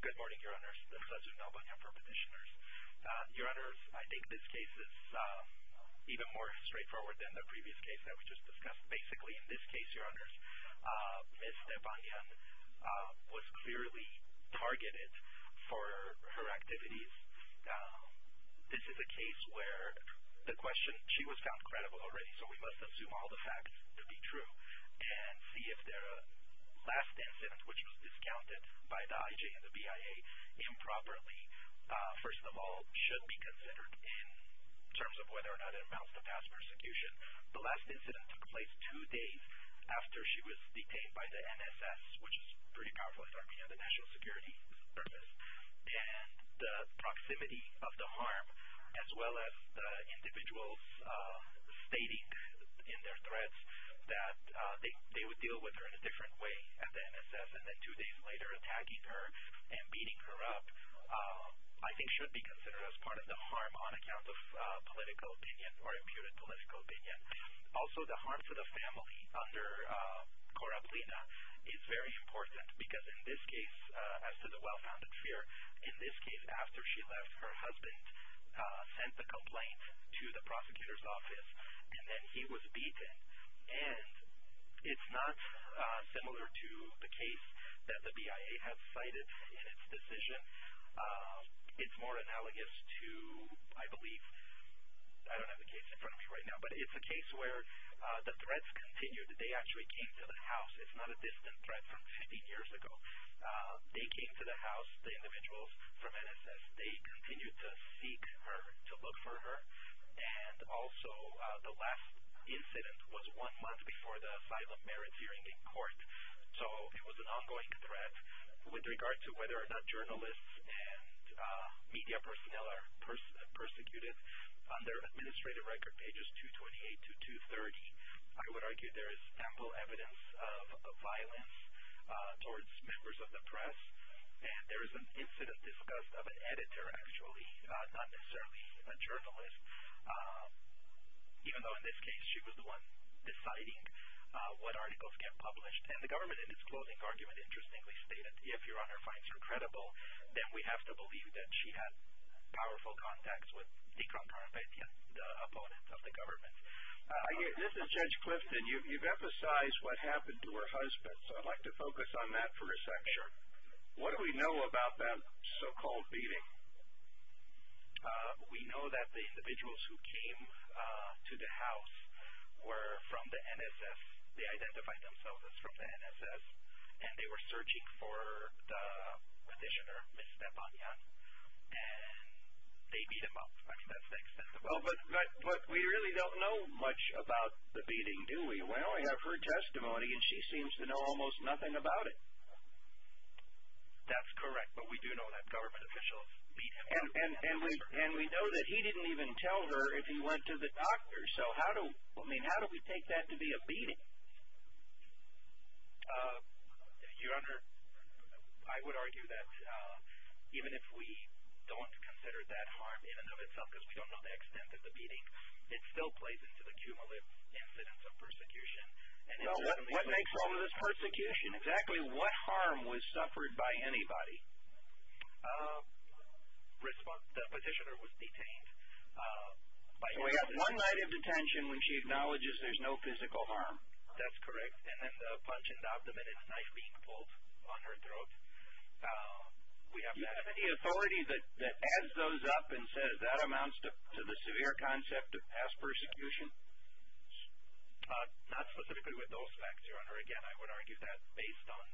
Good morning, Your Honors. This is Svetlana Stepanyan for Petitioners. Your Honors, I think this case is even more straightforward than the previous case that we just discussed. Basically, in this case, Your Honors, Ms. Stepanyan was clearly targeted for her activities. This is a case where the question, she was found credible already, so we must assume all the facts to be true and see if the last incident, which was discounted by the IJ and the BIA improperly, first of all, should be considered in terms of whether or not it amounts to past persecution. The last incident took place two days after she was detained by the NSS, which is pretty powerful in Armenia, the National Security Service, and the proximity of the harm, as well as the individuals stating in their threats that they would deal with her in a different way at the NSS, and then two days later attacking her and beating her up, I think should be considered as part of the harm on account of political opinion or imputed political opinion. Also, the harm to the family under Korablina is very important because in this case, as to the well-founded fear, in this case, after she left, her husband sent the complaint to the prosecutor's office, and then he was beaten. And it's not similar to the case that the BIA has cited in its decision. It's more analogous to, I believe, I don't have the case in front of me right now, but it's a case where the threats continued. They actually came to the house. It's not a distant threat from 50 years ago. They came to the house, the individuals from NSS. They continued to seek her, to look for her. And also, the last incident was one month before the asylum merits hearing in court, so it was an ongoing threat. With regard to whether or not journalists and media personnel are persecuted, on their administrative record, pages 228 to 230, I would argue there is ample evidence of violence towards members of the press. And there is an incident discussed of an editor, actually, not necessarily a journalist, even though in this case she was the one deciding what articles get published. And the government, in its closing argument, interestingly stated, if your honor finds her credible, then we have to believe that she had powerful contacts with the opponents of the government. This is Judge Clifton. You've emphasized what happened to her husband, so I'd like to focus on that for a section. What do we know about that so-called beating? We know that the individuals who came to the house were from the NSS. They identified themselves as from the NSS. And they were searching for the petitioner, Ms. Stepanyan, and they beat him up. I mean, that's the extent of it. But we really don't know much about the beating, do we? We only have her testimony, and she seems to know almost nothing about it. That's correct, but we do know that government officials beat him up. And we know that he didn't even tell her if he went to the doctor. So, I mean, how do we take that to be a beating? Your honor, I would argue that even if we don't consider that harm in and of itself, because we don't know the extent of the beating, it still plays into the cumulative incidence of persecution. What makes all of this persecution? Exactly what harm was suffered by anybody? The petitioner was detained. We have one night of detention when she acknowledges there's no physical harm. That's correct. And then the punch in the abdomen and the knife being pulled on her throat. We have that. Is there any authority that adds those up and says that amounts to the severe concept of past persecution? Not specifically with those facts, your honor. Again, I would argue that's based on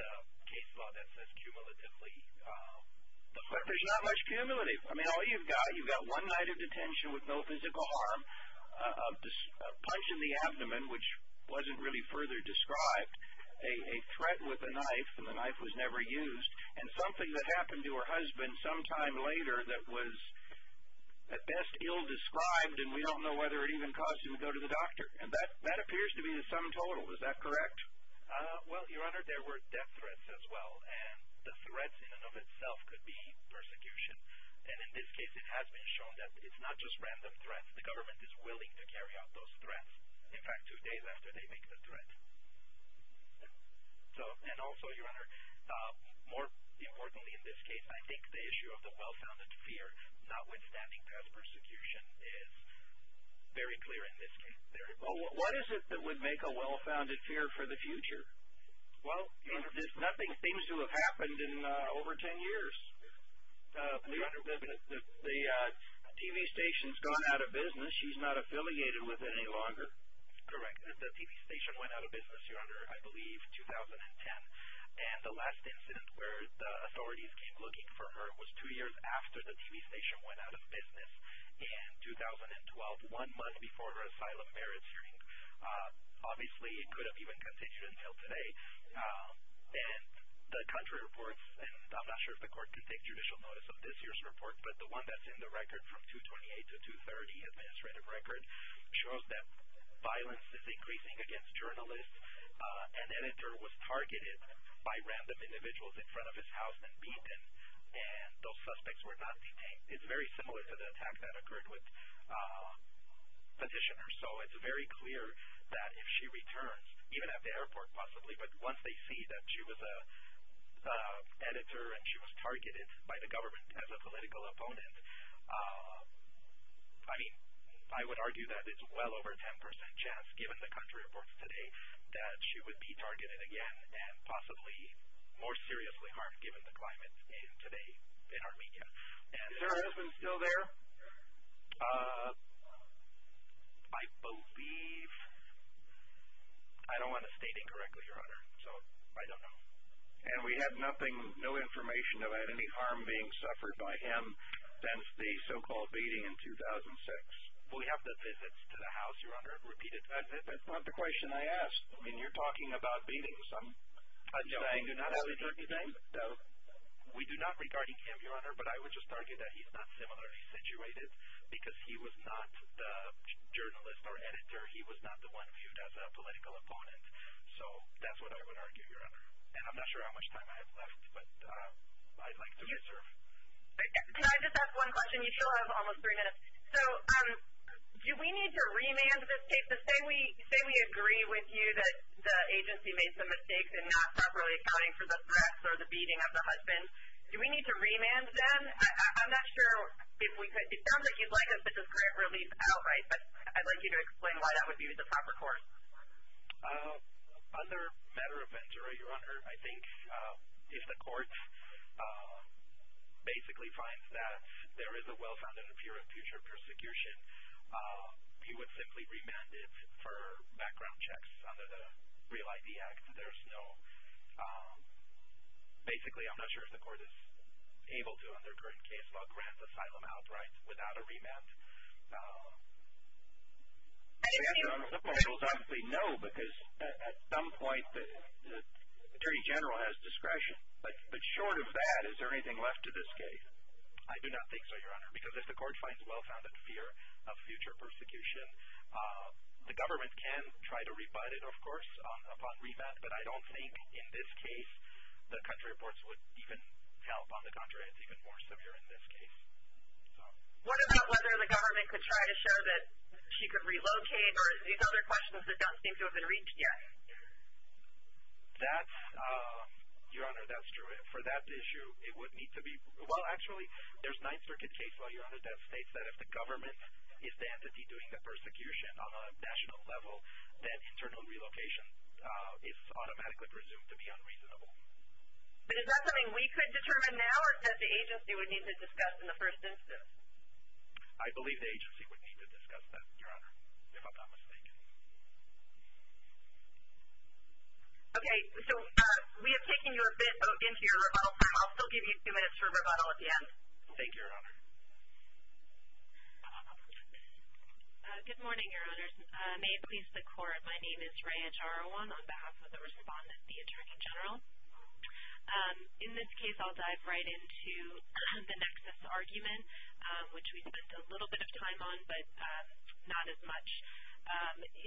the case law that says cumulatively. But there's not much cumulative. I mean, all you've got, you've got one night of detention with no physical harm, a punch in the abdomen, which wasn't really further described, a threat with a knife, and the knife was never used, and something that happened to her husband sometime later that was at best ill-described, and we don't know whether it even caused him to go to the doctor. And that appears to be the sum total. Is that correct? Well, your honor, there were death threats as well. And the threats in and of itself could be persecution. And in this case, it has been shown that it's not just random threats. The government is willing to carry out those threats, in fact, two days after they make the threat. And also, your honor, more importantly in this case, I think the issue of the well-founded fear notwithstanding past persecution is very clear in this case. What is it that would make a well-founded fear for the future? Well, nothing seems to have happened in over 10 years. Your honor, the TV station has gone out of business. She's not affiliated with it any longer. Correct. The TV station went out of business, your honor, I believe 2010. And the last incident where the authorities came looking for her was two years after the TV station went out of business in 2012, one month before her asylum merits hearing. Obviously, it could have even continued until today. And the country reports, and I'm not sure if the court can take judicial notice of this year's report, but the one that's in the record from 228 to 230, administrative record, shows that violence is increasing against journalists. An editor was targeted by random individuals in front of his house and beaten, and those suspects were not detained. It's very similar to the attack that occurred with petitioners. So it's very clear that if she returns, even at the airport possibly, but once they see that she was an editor and she was targeted by the government as a political opponent, I mean, I would argue that it's well over 10% chance, given the country reports today, that she would be targeted again and possibly more seriously harmed given the climate today in Armenia. Is her husband still there? I believe. I don't want to state incorrectly, Your Honor, so I don't know. And we have nothing, no information about any harm being suffered by him since the so-called beating in 2006. We have the visits to the house, Your Honor. Repeat it. That's not the question I asked. I mean, you're talking about beatings. We do not regard him, Your Honor, but I would just target that he's not similarly situated because he was not the journalist or editor. He was not the one viewed as a political opponent. So that's what I would argue, Your Honor. And I'm not sure how much time I have left, but I'd like to reserve. Can I just ask one question? You still have almost three minutes. So do we need to remand this case? Say we agree with you that the agency made some mistakes in not properly accounting for the threats or the beating of the husband. Do we need to remand them? I'm not sure if we could. It sounds like you'd like us to just grant relief outright, but I'd like you to explain why that would be the proper course. Under matter of venture, Your Honor, I think if the courts basically find that there is a well-founded fear of future persecution, you would simply remand it for background checks under the Real ID Act. There's no – basically, I'm not sure if the court is able to, under current case law, grant asylum outright without a remand. I think you're correct. The point is, obviously, no, because at some point the Attorney General has discretion. But short of that, is there anything left to this case? I do not think so, Your Honor, because if the court finds well-founded fear of future persecution, the government can try to rebut it, of course, upon remand. But I don't think in this case the country reports would even help. On the contrary, it's even more severe in this case. What about whether the government could try to show that she could relocate, or are these other questions that don't seem to have been reached yet? That's – Your Honor, that's true. For that issue, it would need to be – well, actually, there's a Ninth Circuit case law, Your Honor, that states that if the government is the entity doing the persecution on a national level, then internal relocation is automatically presumed to be unreasonable. But is that something we could determine now, or is that the agency would need to discuss in the first instance? I believe the agency would need to discuss that, Your Honor, if I'm not mistaken. Okay. So we have taken you a bit into your rebuttal time. I'll still give you a few minutes for rebuttal at the end. Thank you, Your Honor. Good morning, Your Honors. May it please the Court, my name is Raya Jarawan on behalf of the Respondent, the Attorney General. In this case, I'll dive right into the nexus argument, which we spent a little bit of time on, but not as much.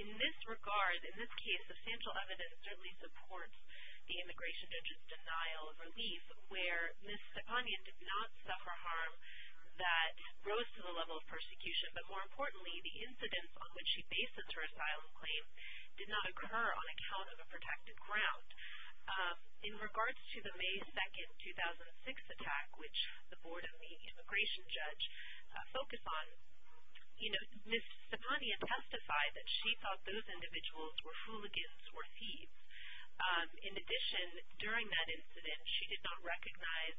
In this regard, in this case, substantial evidence certainly supports the immigration judge's denial of relief, where Ms. Stepanian did not suffer harm that rose to the level of persecution. But more importantly, the incidents on which she bases her asylum claim did not occur on account of a protected ground. In regards to the May 2, 2006 attack, which the Board of the Immigration Judge focused on, you know, Ms. Stepanian testified that she thought those individuals were hooligans or thieves. In addition, during that incident, she did not recognize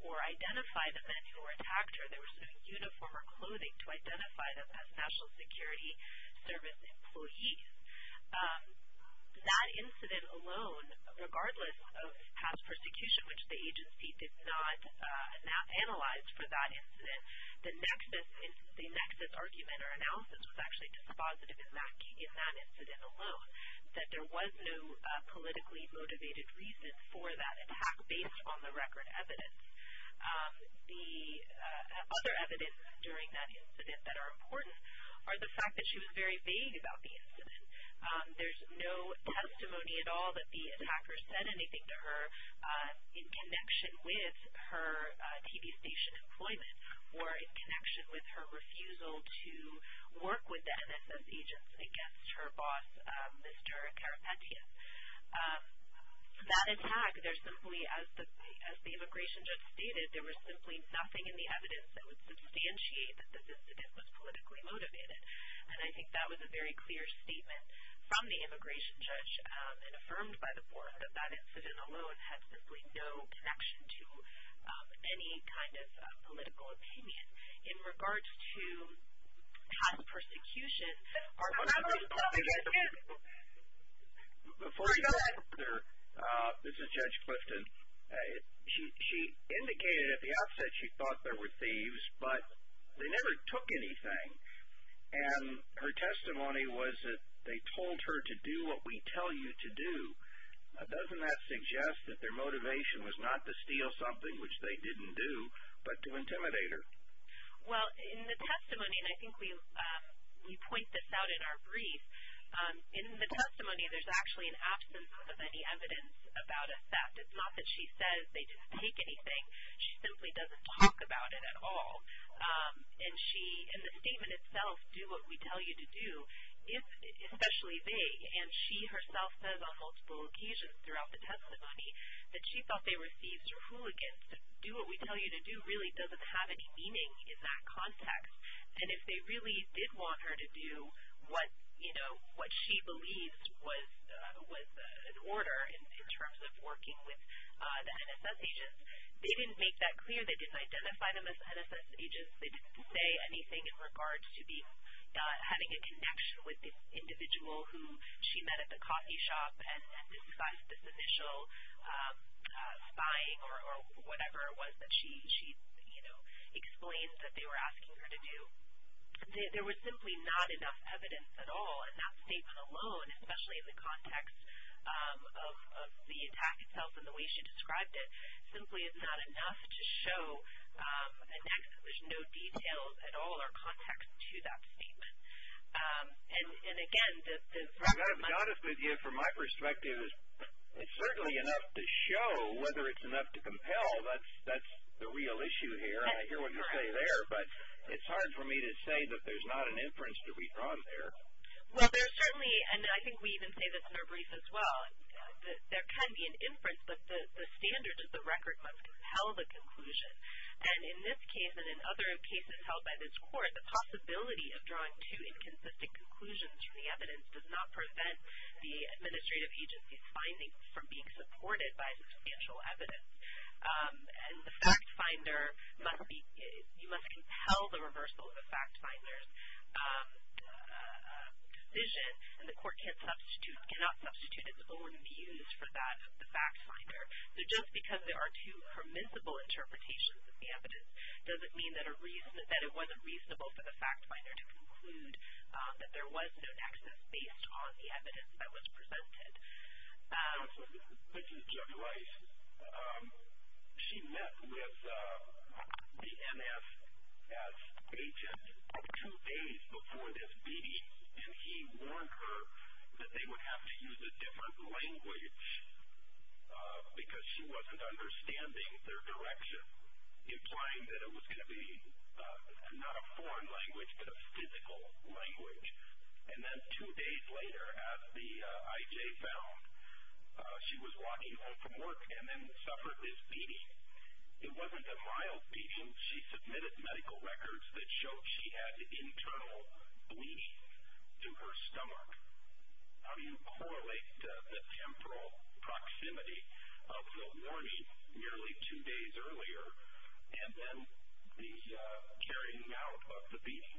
or identify the men who attacked her. They were sitting in uniform or clothing to identify them as National Security Service employees. That incident alone, regardless of past persecution, which the agency did not analyze for that incident, the nexus argument or analysis was actually dispositive in that incident alone, that there was no politically motivated reason for that attack based on the record evidence. The other evidence during that incident that are important are the fact that she was very vague about the incident. There's no testimony at all that the attacker said anything to her in connection with her TV station employment or in connection with her refusal to work with the NSS agents against her boss, Mr. Karapetya. That attack, there's simply, as the Immigration Judge stated, there was simply nothing in the evidence that would substantiate that this incident was politically motivated. And I think that was a very clear statement from the Immigration Judge and affirmed by the Board that that incident alone had simply no connection to any kind of political opinion. In regards to past persecutions, are members of the public... Before you go there, this is Judge Clifton. She indicated at the outset she thought there were thieves, but they never took anything. And her testimony was that they told her to do what we tell you to do. Doesn't that suggest that their motivation was not to steal something, which they didn't do, but to intimidate her? Well, in the testimony, and I think we point this out in our brief, in the testimony there's actually an absence of any evidence about a theft. It's not that she says they didn't take anything. She simply doesn't talk about it at all. And she, in the statement itself, do what we tell you to do, especially vague. And she herself says on multiple occasions throughout the testimony that she thought they were thieves or hooligans. Do what we tell you to do really doesn't have any meaning in that context. And if they really did want her to do what, you know, what she believes was an order in terms of working with the NSS agents, they didn't make that clear. They didn't identify them as NSS agents. They didn't say anything in regards to having a connection with this individual who she met at the coffee shop and emphasized this initial spying or whatever it was that she, you know, explained that they were asking her to do. There was simply not enough evidence at all, and that statement alone, especially in the context of the attack itself and the way she described it, simply is not enough to show an exhibition. No details at all are context to that statement. And, again, from my perspective, it's certainly enough to show whether it's enough to compel. That's the real issue here, and I hear what you're saying there. But it's hard for me to say that there's not an inference to be drawn there. Well, there's certainly, and I think we even say this in our brief as well, that there can be an inference, but the standards of the record must compel the conclusion. And in this case and in other cases held by this court, the possibility of drawing two inconsistent conclusions from the evidence does not prevent the administrative agency's findings from being supported by substantial evidence. And the fact finder must be, you must compel the reversal of the fact finder's decision, and the court cannot substitute its own views for that of the fact finder. So just because there are two permissible interpretations of the evidence doesn't mean that it wasn't reasonable for the fact finder to conclude that there was no access based on the evidence that was presented. This is Jeff Rice. She met with the MS as agent two days before this meeting, and he warned her that they would have to use a different language because she wasn't understanding their direction, implying that it was going to be not a foreign language but a physical language. And then two days later, as the IJ found, she was walking home from work and then suffered this beating. It wasn't a mild beating. She submitted medical records that showed she had internal bleeding to her stomach. How do you correlate the temporal proximity of the warning nearly two days earlier and then the carrying out of the beating?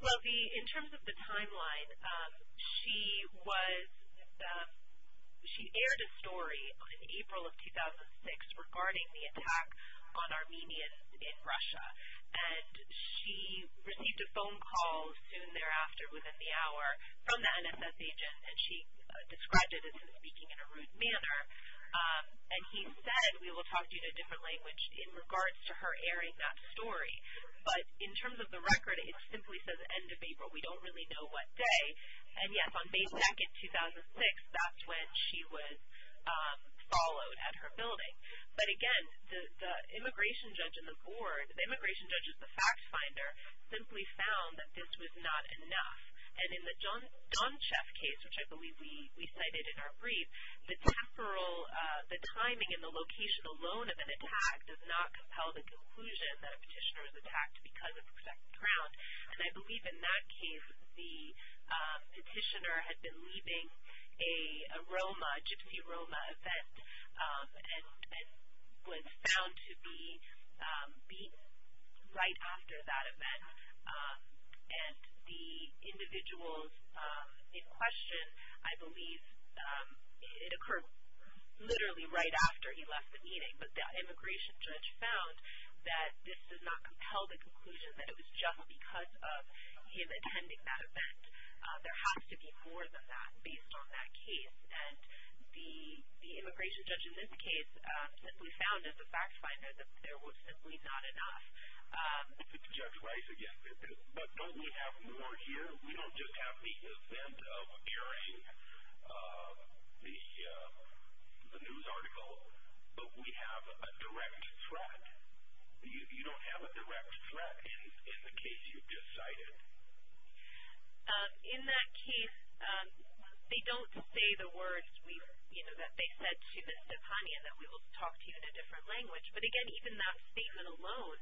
Well, in terms of the timeline, she aired a story in April of 2006 regarding the attack on Armenians in Russia, and she received a phone call soon thereafter within the hour from the NSS agent, and she described it as him speaking in a rude manner. And he said, we will talk to you in a different language in regards to her airing that story. But in terms of the record, it simply says end of April. We don't really know what day. And, yes, on May 2, 2006, that's when she was followed at her building. But, again, the immigration judge and the board, the immigration judge is the fact finder, simply found that this was not enough. And in the John Sheff case, which I believe we cited in our brief, the temporal, the timing and the location alone of an attack does not compel the conclusion that a petitioner was attacked because of a second round. And I believe in that case the petitioner had been leaving a Roma, a gypsy Roma event, and was found to be beaten right after that event. And the individuals in question, I believe it occurred literally right after he left the meeting. But the immigration judge found that this does not compel the conclusion that it was just because of him attending that event. There has to be more than that based on that case. And the immigration judge in this case simply found as a fact finder that there was simply not enough. Judge Rice, again, but don't we have more here? We don't just have the event of hearing the news article, but we have a direct threat. You don't have a direct threat in the case you've just cited. In that case, they don't say the words, you know, that they said to Ms. Depanya that we will talk to you in a different language. But, again, even that statement alone,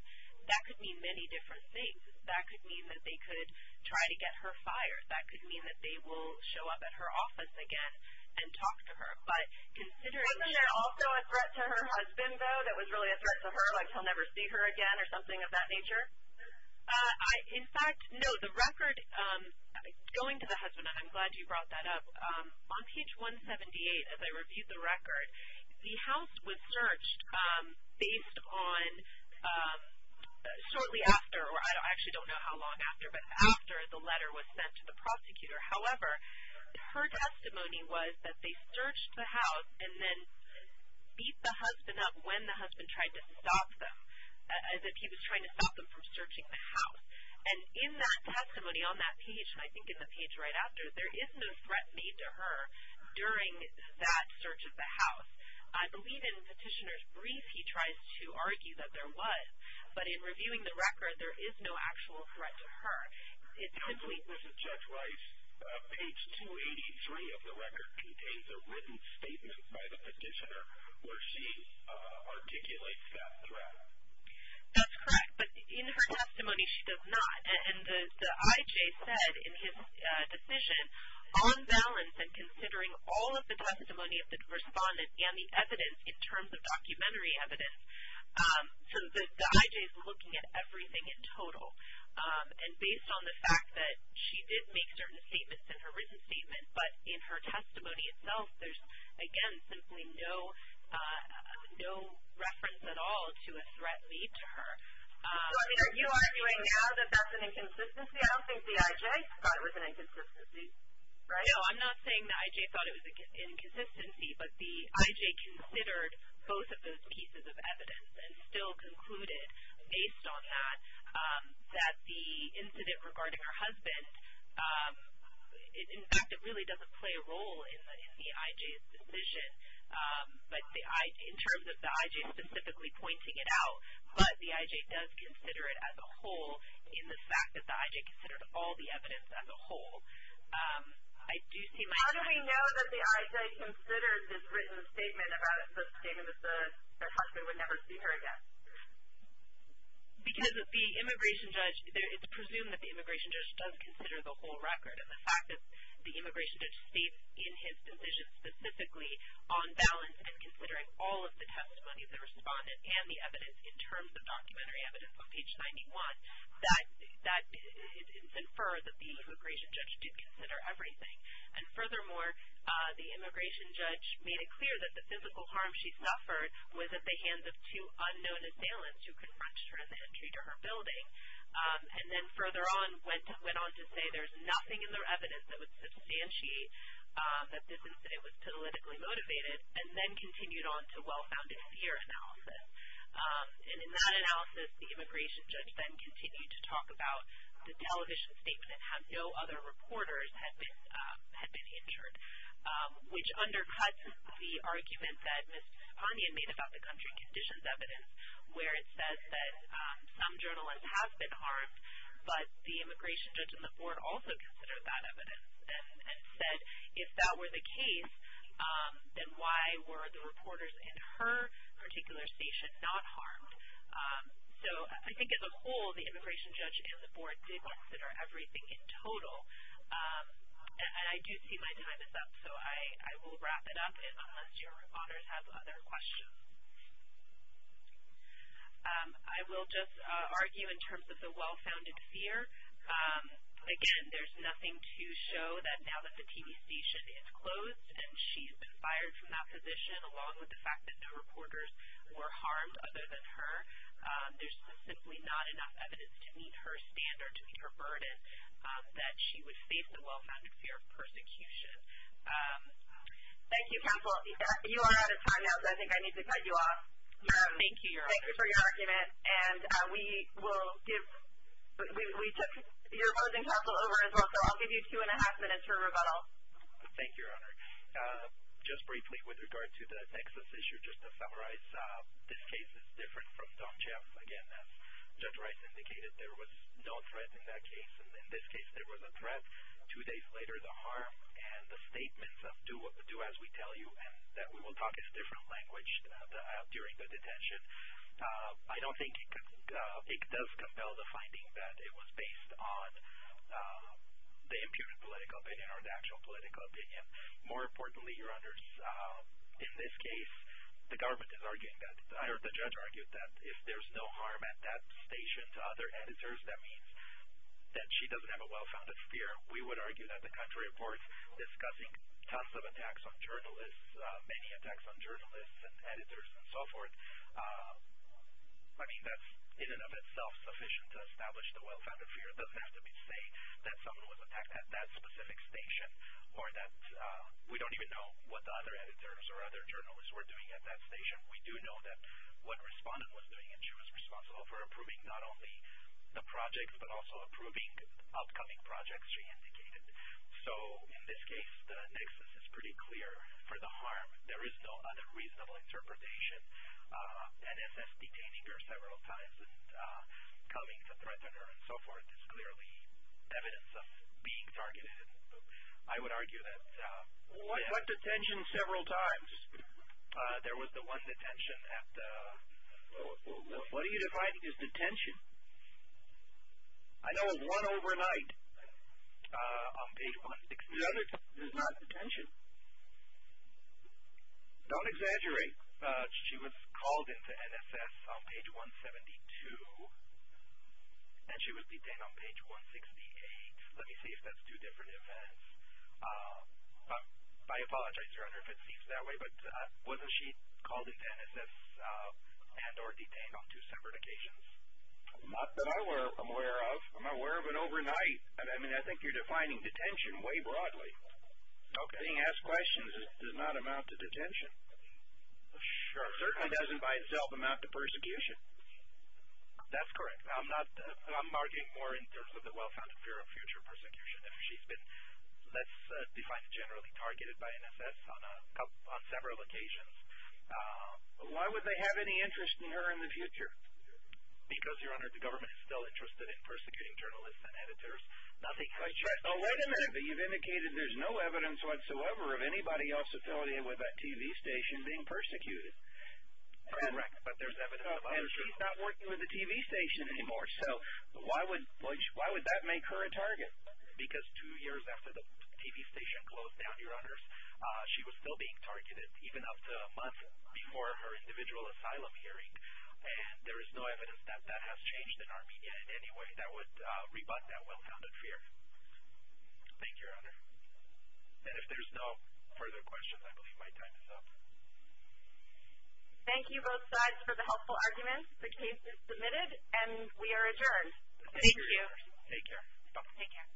that could mean many different things. That could mean that they could try to get her fired. That could mean that they will show up at her office again and talk to her. Wasn't there also a threat to her husband, though, that was really a threat to her, like he'll never see her again or something of that nature? In fact, no, the record going to the husband, and I'm glad you brought that up, on page 178, as I reviewed the record, the house was searched based on shortly after, or I actually don't know how long after, but after the letter was sent to the prosecutor. However, her testimony was that they searched the house and then beat the husband up when the husband tried to stop them, as if he was trying to stop them from searching the house. And in that testimony on that page, and I think in the page right after, there is no threat made to her during that search of the house. I believe in Petitioner's brief he tries to argue that there was, but in reviewing the record there is no actual threat to her. I believe, Mrs. Judge Rice, page 283 of the record contains a written statement by the petitioner where she articulates that threat. That's correct, but in her testimony she does not. And the IJ said in his decision, on balance and considering all of the testimony of the respondent and the evidence in terms of documentary evidence, the IJ is looking at everything in total. And based on the fact that she did make certain statements in her written statement, but in her testimony itself there's, again, simply no reference at all to a threat made to her. So are you arguing now that that's an inconsistency? I don't think the IJ thought it was an inconsistency, right? No, I'm not saying the IJ thought it was an inconsistency, but the IJ considered both of those pieces of evidence and still concluded, based on that, that the incident regarding her husband, in fact, it really doesn't play a role in the IJ's decision, but in terms of the IJ specifically pointing it out, but the IJ does consider it as a whole in the fact that the IJ considered all the evidence as a whole. How do we know that the IJ considered this written statement about the statement that her husband would never see her again? Because the immigration judge, it's presumed that the immigration judge does consider the whole record, and the fact that the immigration judge states in his decision specifically on balance and considering all of the testimony of the respondent and the evidence in terms of documentary evidence of page 91, that it's inferred that the immigration judge did consider everything. And furthermore, the immigration judge made it clear that the physical harm she suffered was at the hands of two unknown assailants who confronted her at the entry to her building, and then further on went on to say there's nothing in their evidence that would substantiate that this incident was politically motivated, and then continued on to well-founded fear analysis. And in that analysis, the immigration judge then continued to talk about the television statement and how no other reporters had been injured, which undercuts the argument that Ms. Ponian made about the country conditions evidence, where it says that some journalists have been harmed, but the immigration judge and the board also considered that evidence and said if that were the case, then why were the reporters in her particular station not harmed? So I think as a whole, the immigration judge and the board did consider everything in total. And I do see my time is up, so I will wrap it up unless your auditors have other questions. I will just argue in terms of the well-founded fear. Again, there's nothing to show that now that the TV station is closed and she's been fired from that position along with the fact that no reporters were harmed other than her, there's simply not enough evidence to meet her standard, to meet her burden, that she was faced with well-founded fear of persecution. Thank you, counsel. You are out of time now, so I think I need to cut you off. Thank you, Your Honor. Thank you for your argument. And we took your opposing counsel over as well, so I'll give you two and a half minutes for rebuttal. Thank you, Your Honor. Just briefly with regard to the Texas issue, just to summarize, this case is different from Tom Jeff. Again, as Judge Rice indicated, there was no threat in that case. And in this case, there was a threat. Two days later, the harm and the statements of do as we tell you and that we will talk in a different language during the detention, I don't think it does compel the finding that it was based on the imputed political opinion or the actual political opinion. More importantly, Your Honors, in this case, the government is arguing that, or the judge argued that if there's no harm at that station to other editors, that means that she doesn't have a well-founded fear. We would argue that the country reports discussing tons of attacks on journalists, many attacks on journalists and editors and so forth, I mean, that's in and of itself sufficient to establish the well-founded fear. It doesn't have to be saying that someone was attacked at that specific station or that we don't even know what the other editors or other journalists were doing at that station. We do know that what respondent was doing and she was responsible for approving not only the projects but also approving the upcoming projects she indicated. So in this case, the nexus is pretty clear for the harm. There is no other reasonable interpretation. That SS detaining her several times and coming to threaten her and so forth is clearly evidence of being targeted. I would argue that. They had detention several times. There was the one detention at the. What are you defining as detention? I know of one overnight on page 160. The other is not detention. Don't exaggerate. She was called into NSS on page 172 and she was detained on page 168. Let me see if that's two different events. I apologize, Your Honor, if it seems that way. But wasn't she called into NSS and or detained on two separate occasions? Not that I'm aware of. I'm aware of an overnight. I mean, I think you're defining detention way broadly. Okay. Being asked questions does not amount to detention. Certainly doesn't by itself amount to persecution. That's correct. I'm arguing more in terms of the well-founded fear of future persecution if she's been less defined generally targeted by NSS on several occasions. Why would they have any interest in her in the future? Because, Your Honor, the government is still interested in persecuting journalists and editors. Oh, wait a minute. But you've indicated there's no evidence whatsoever of anybody else affiliated with that TV station being persecuted. Correct. But there's evidence of other people. And she's not working with the TV station anymore. So why would that make her a target? Because two years after the TV station closed down, Your Honors, she was still being targeted even up to a month before her individual asylum hearing. And there is no evidence that that has changed in our media in any way that would rebut that well-founded fear. Thank you, Your Honor. And if there's no further questions, I believe my time is up. Thank you both sides for the helpful arguments. The case is submitted and we are adjourned. Thank you. Thank you, Your Honor. Take care. Take care.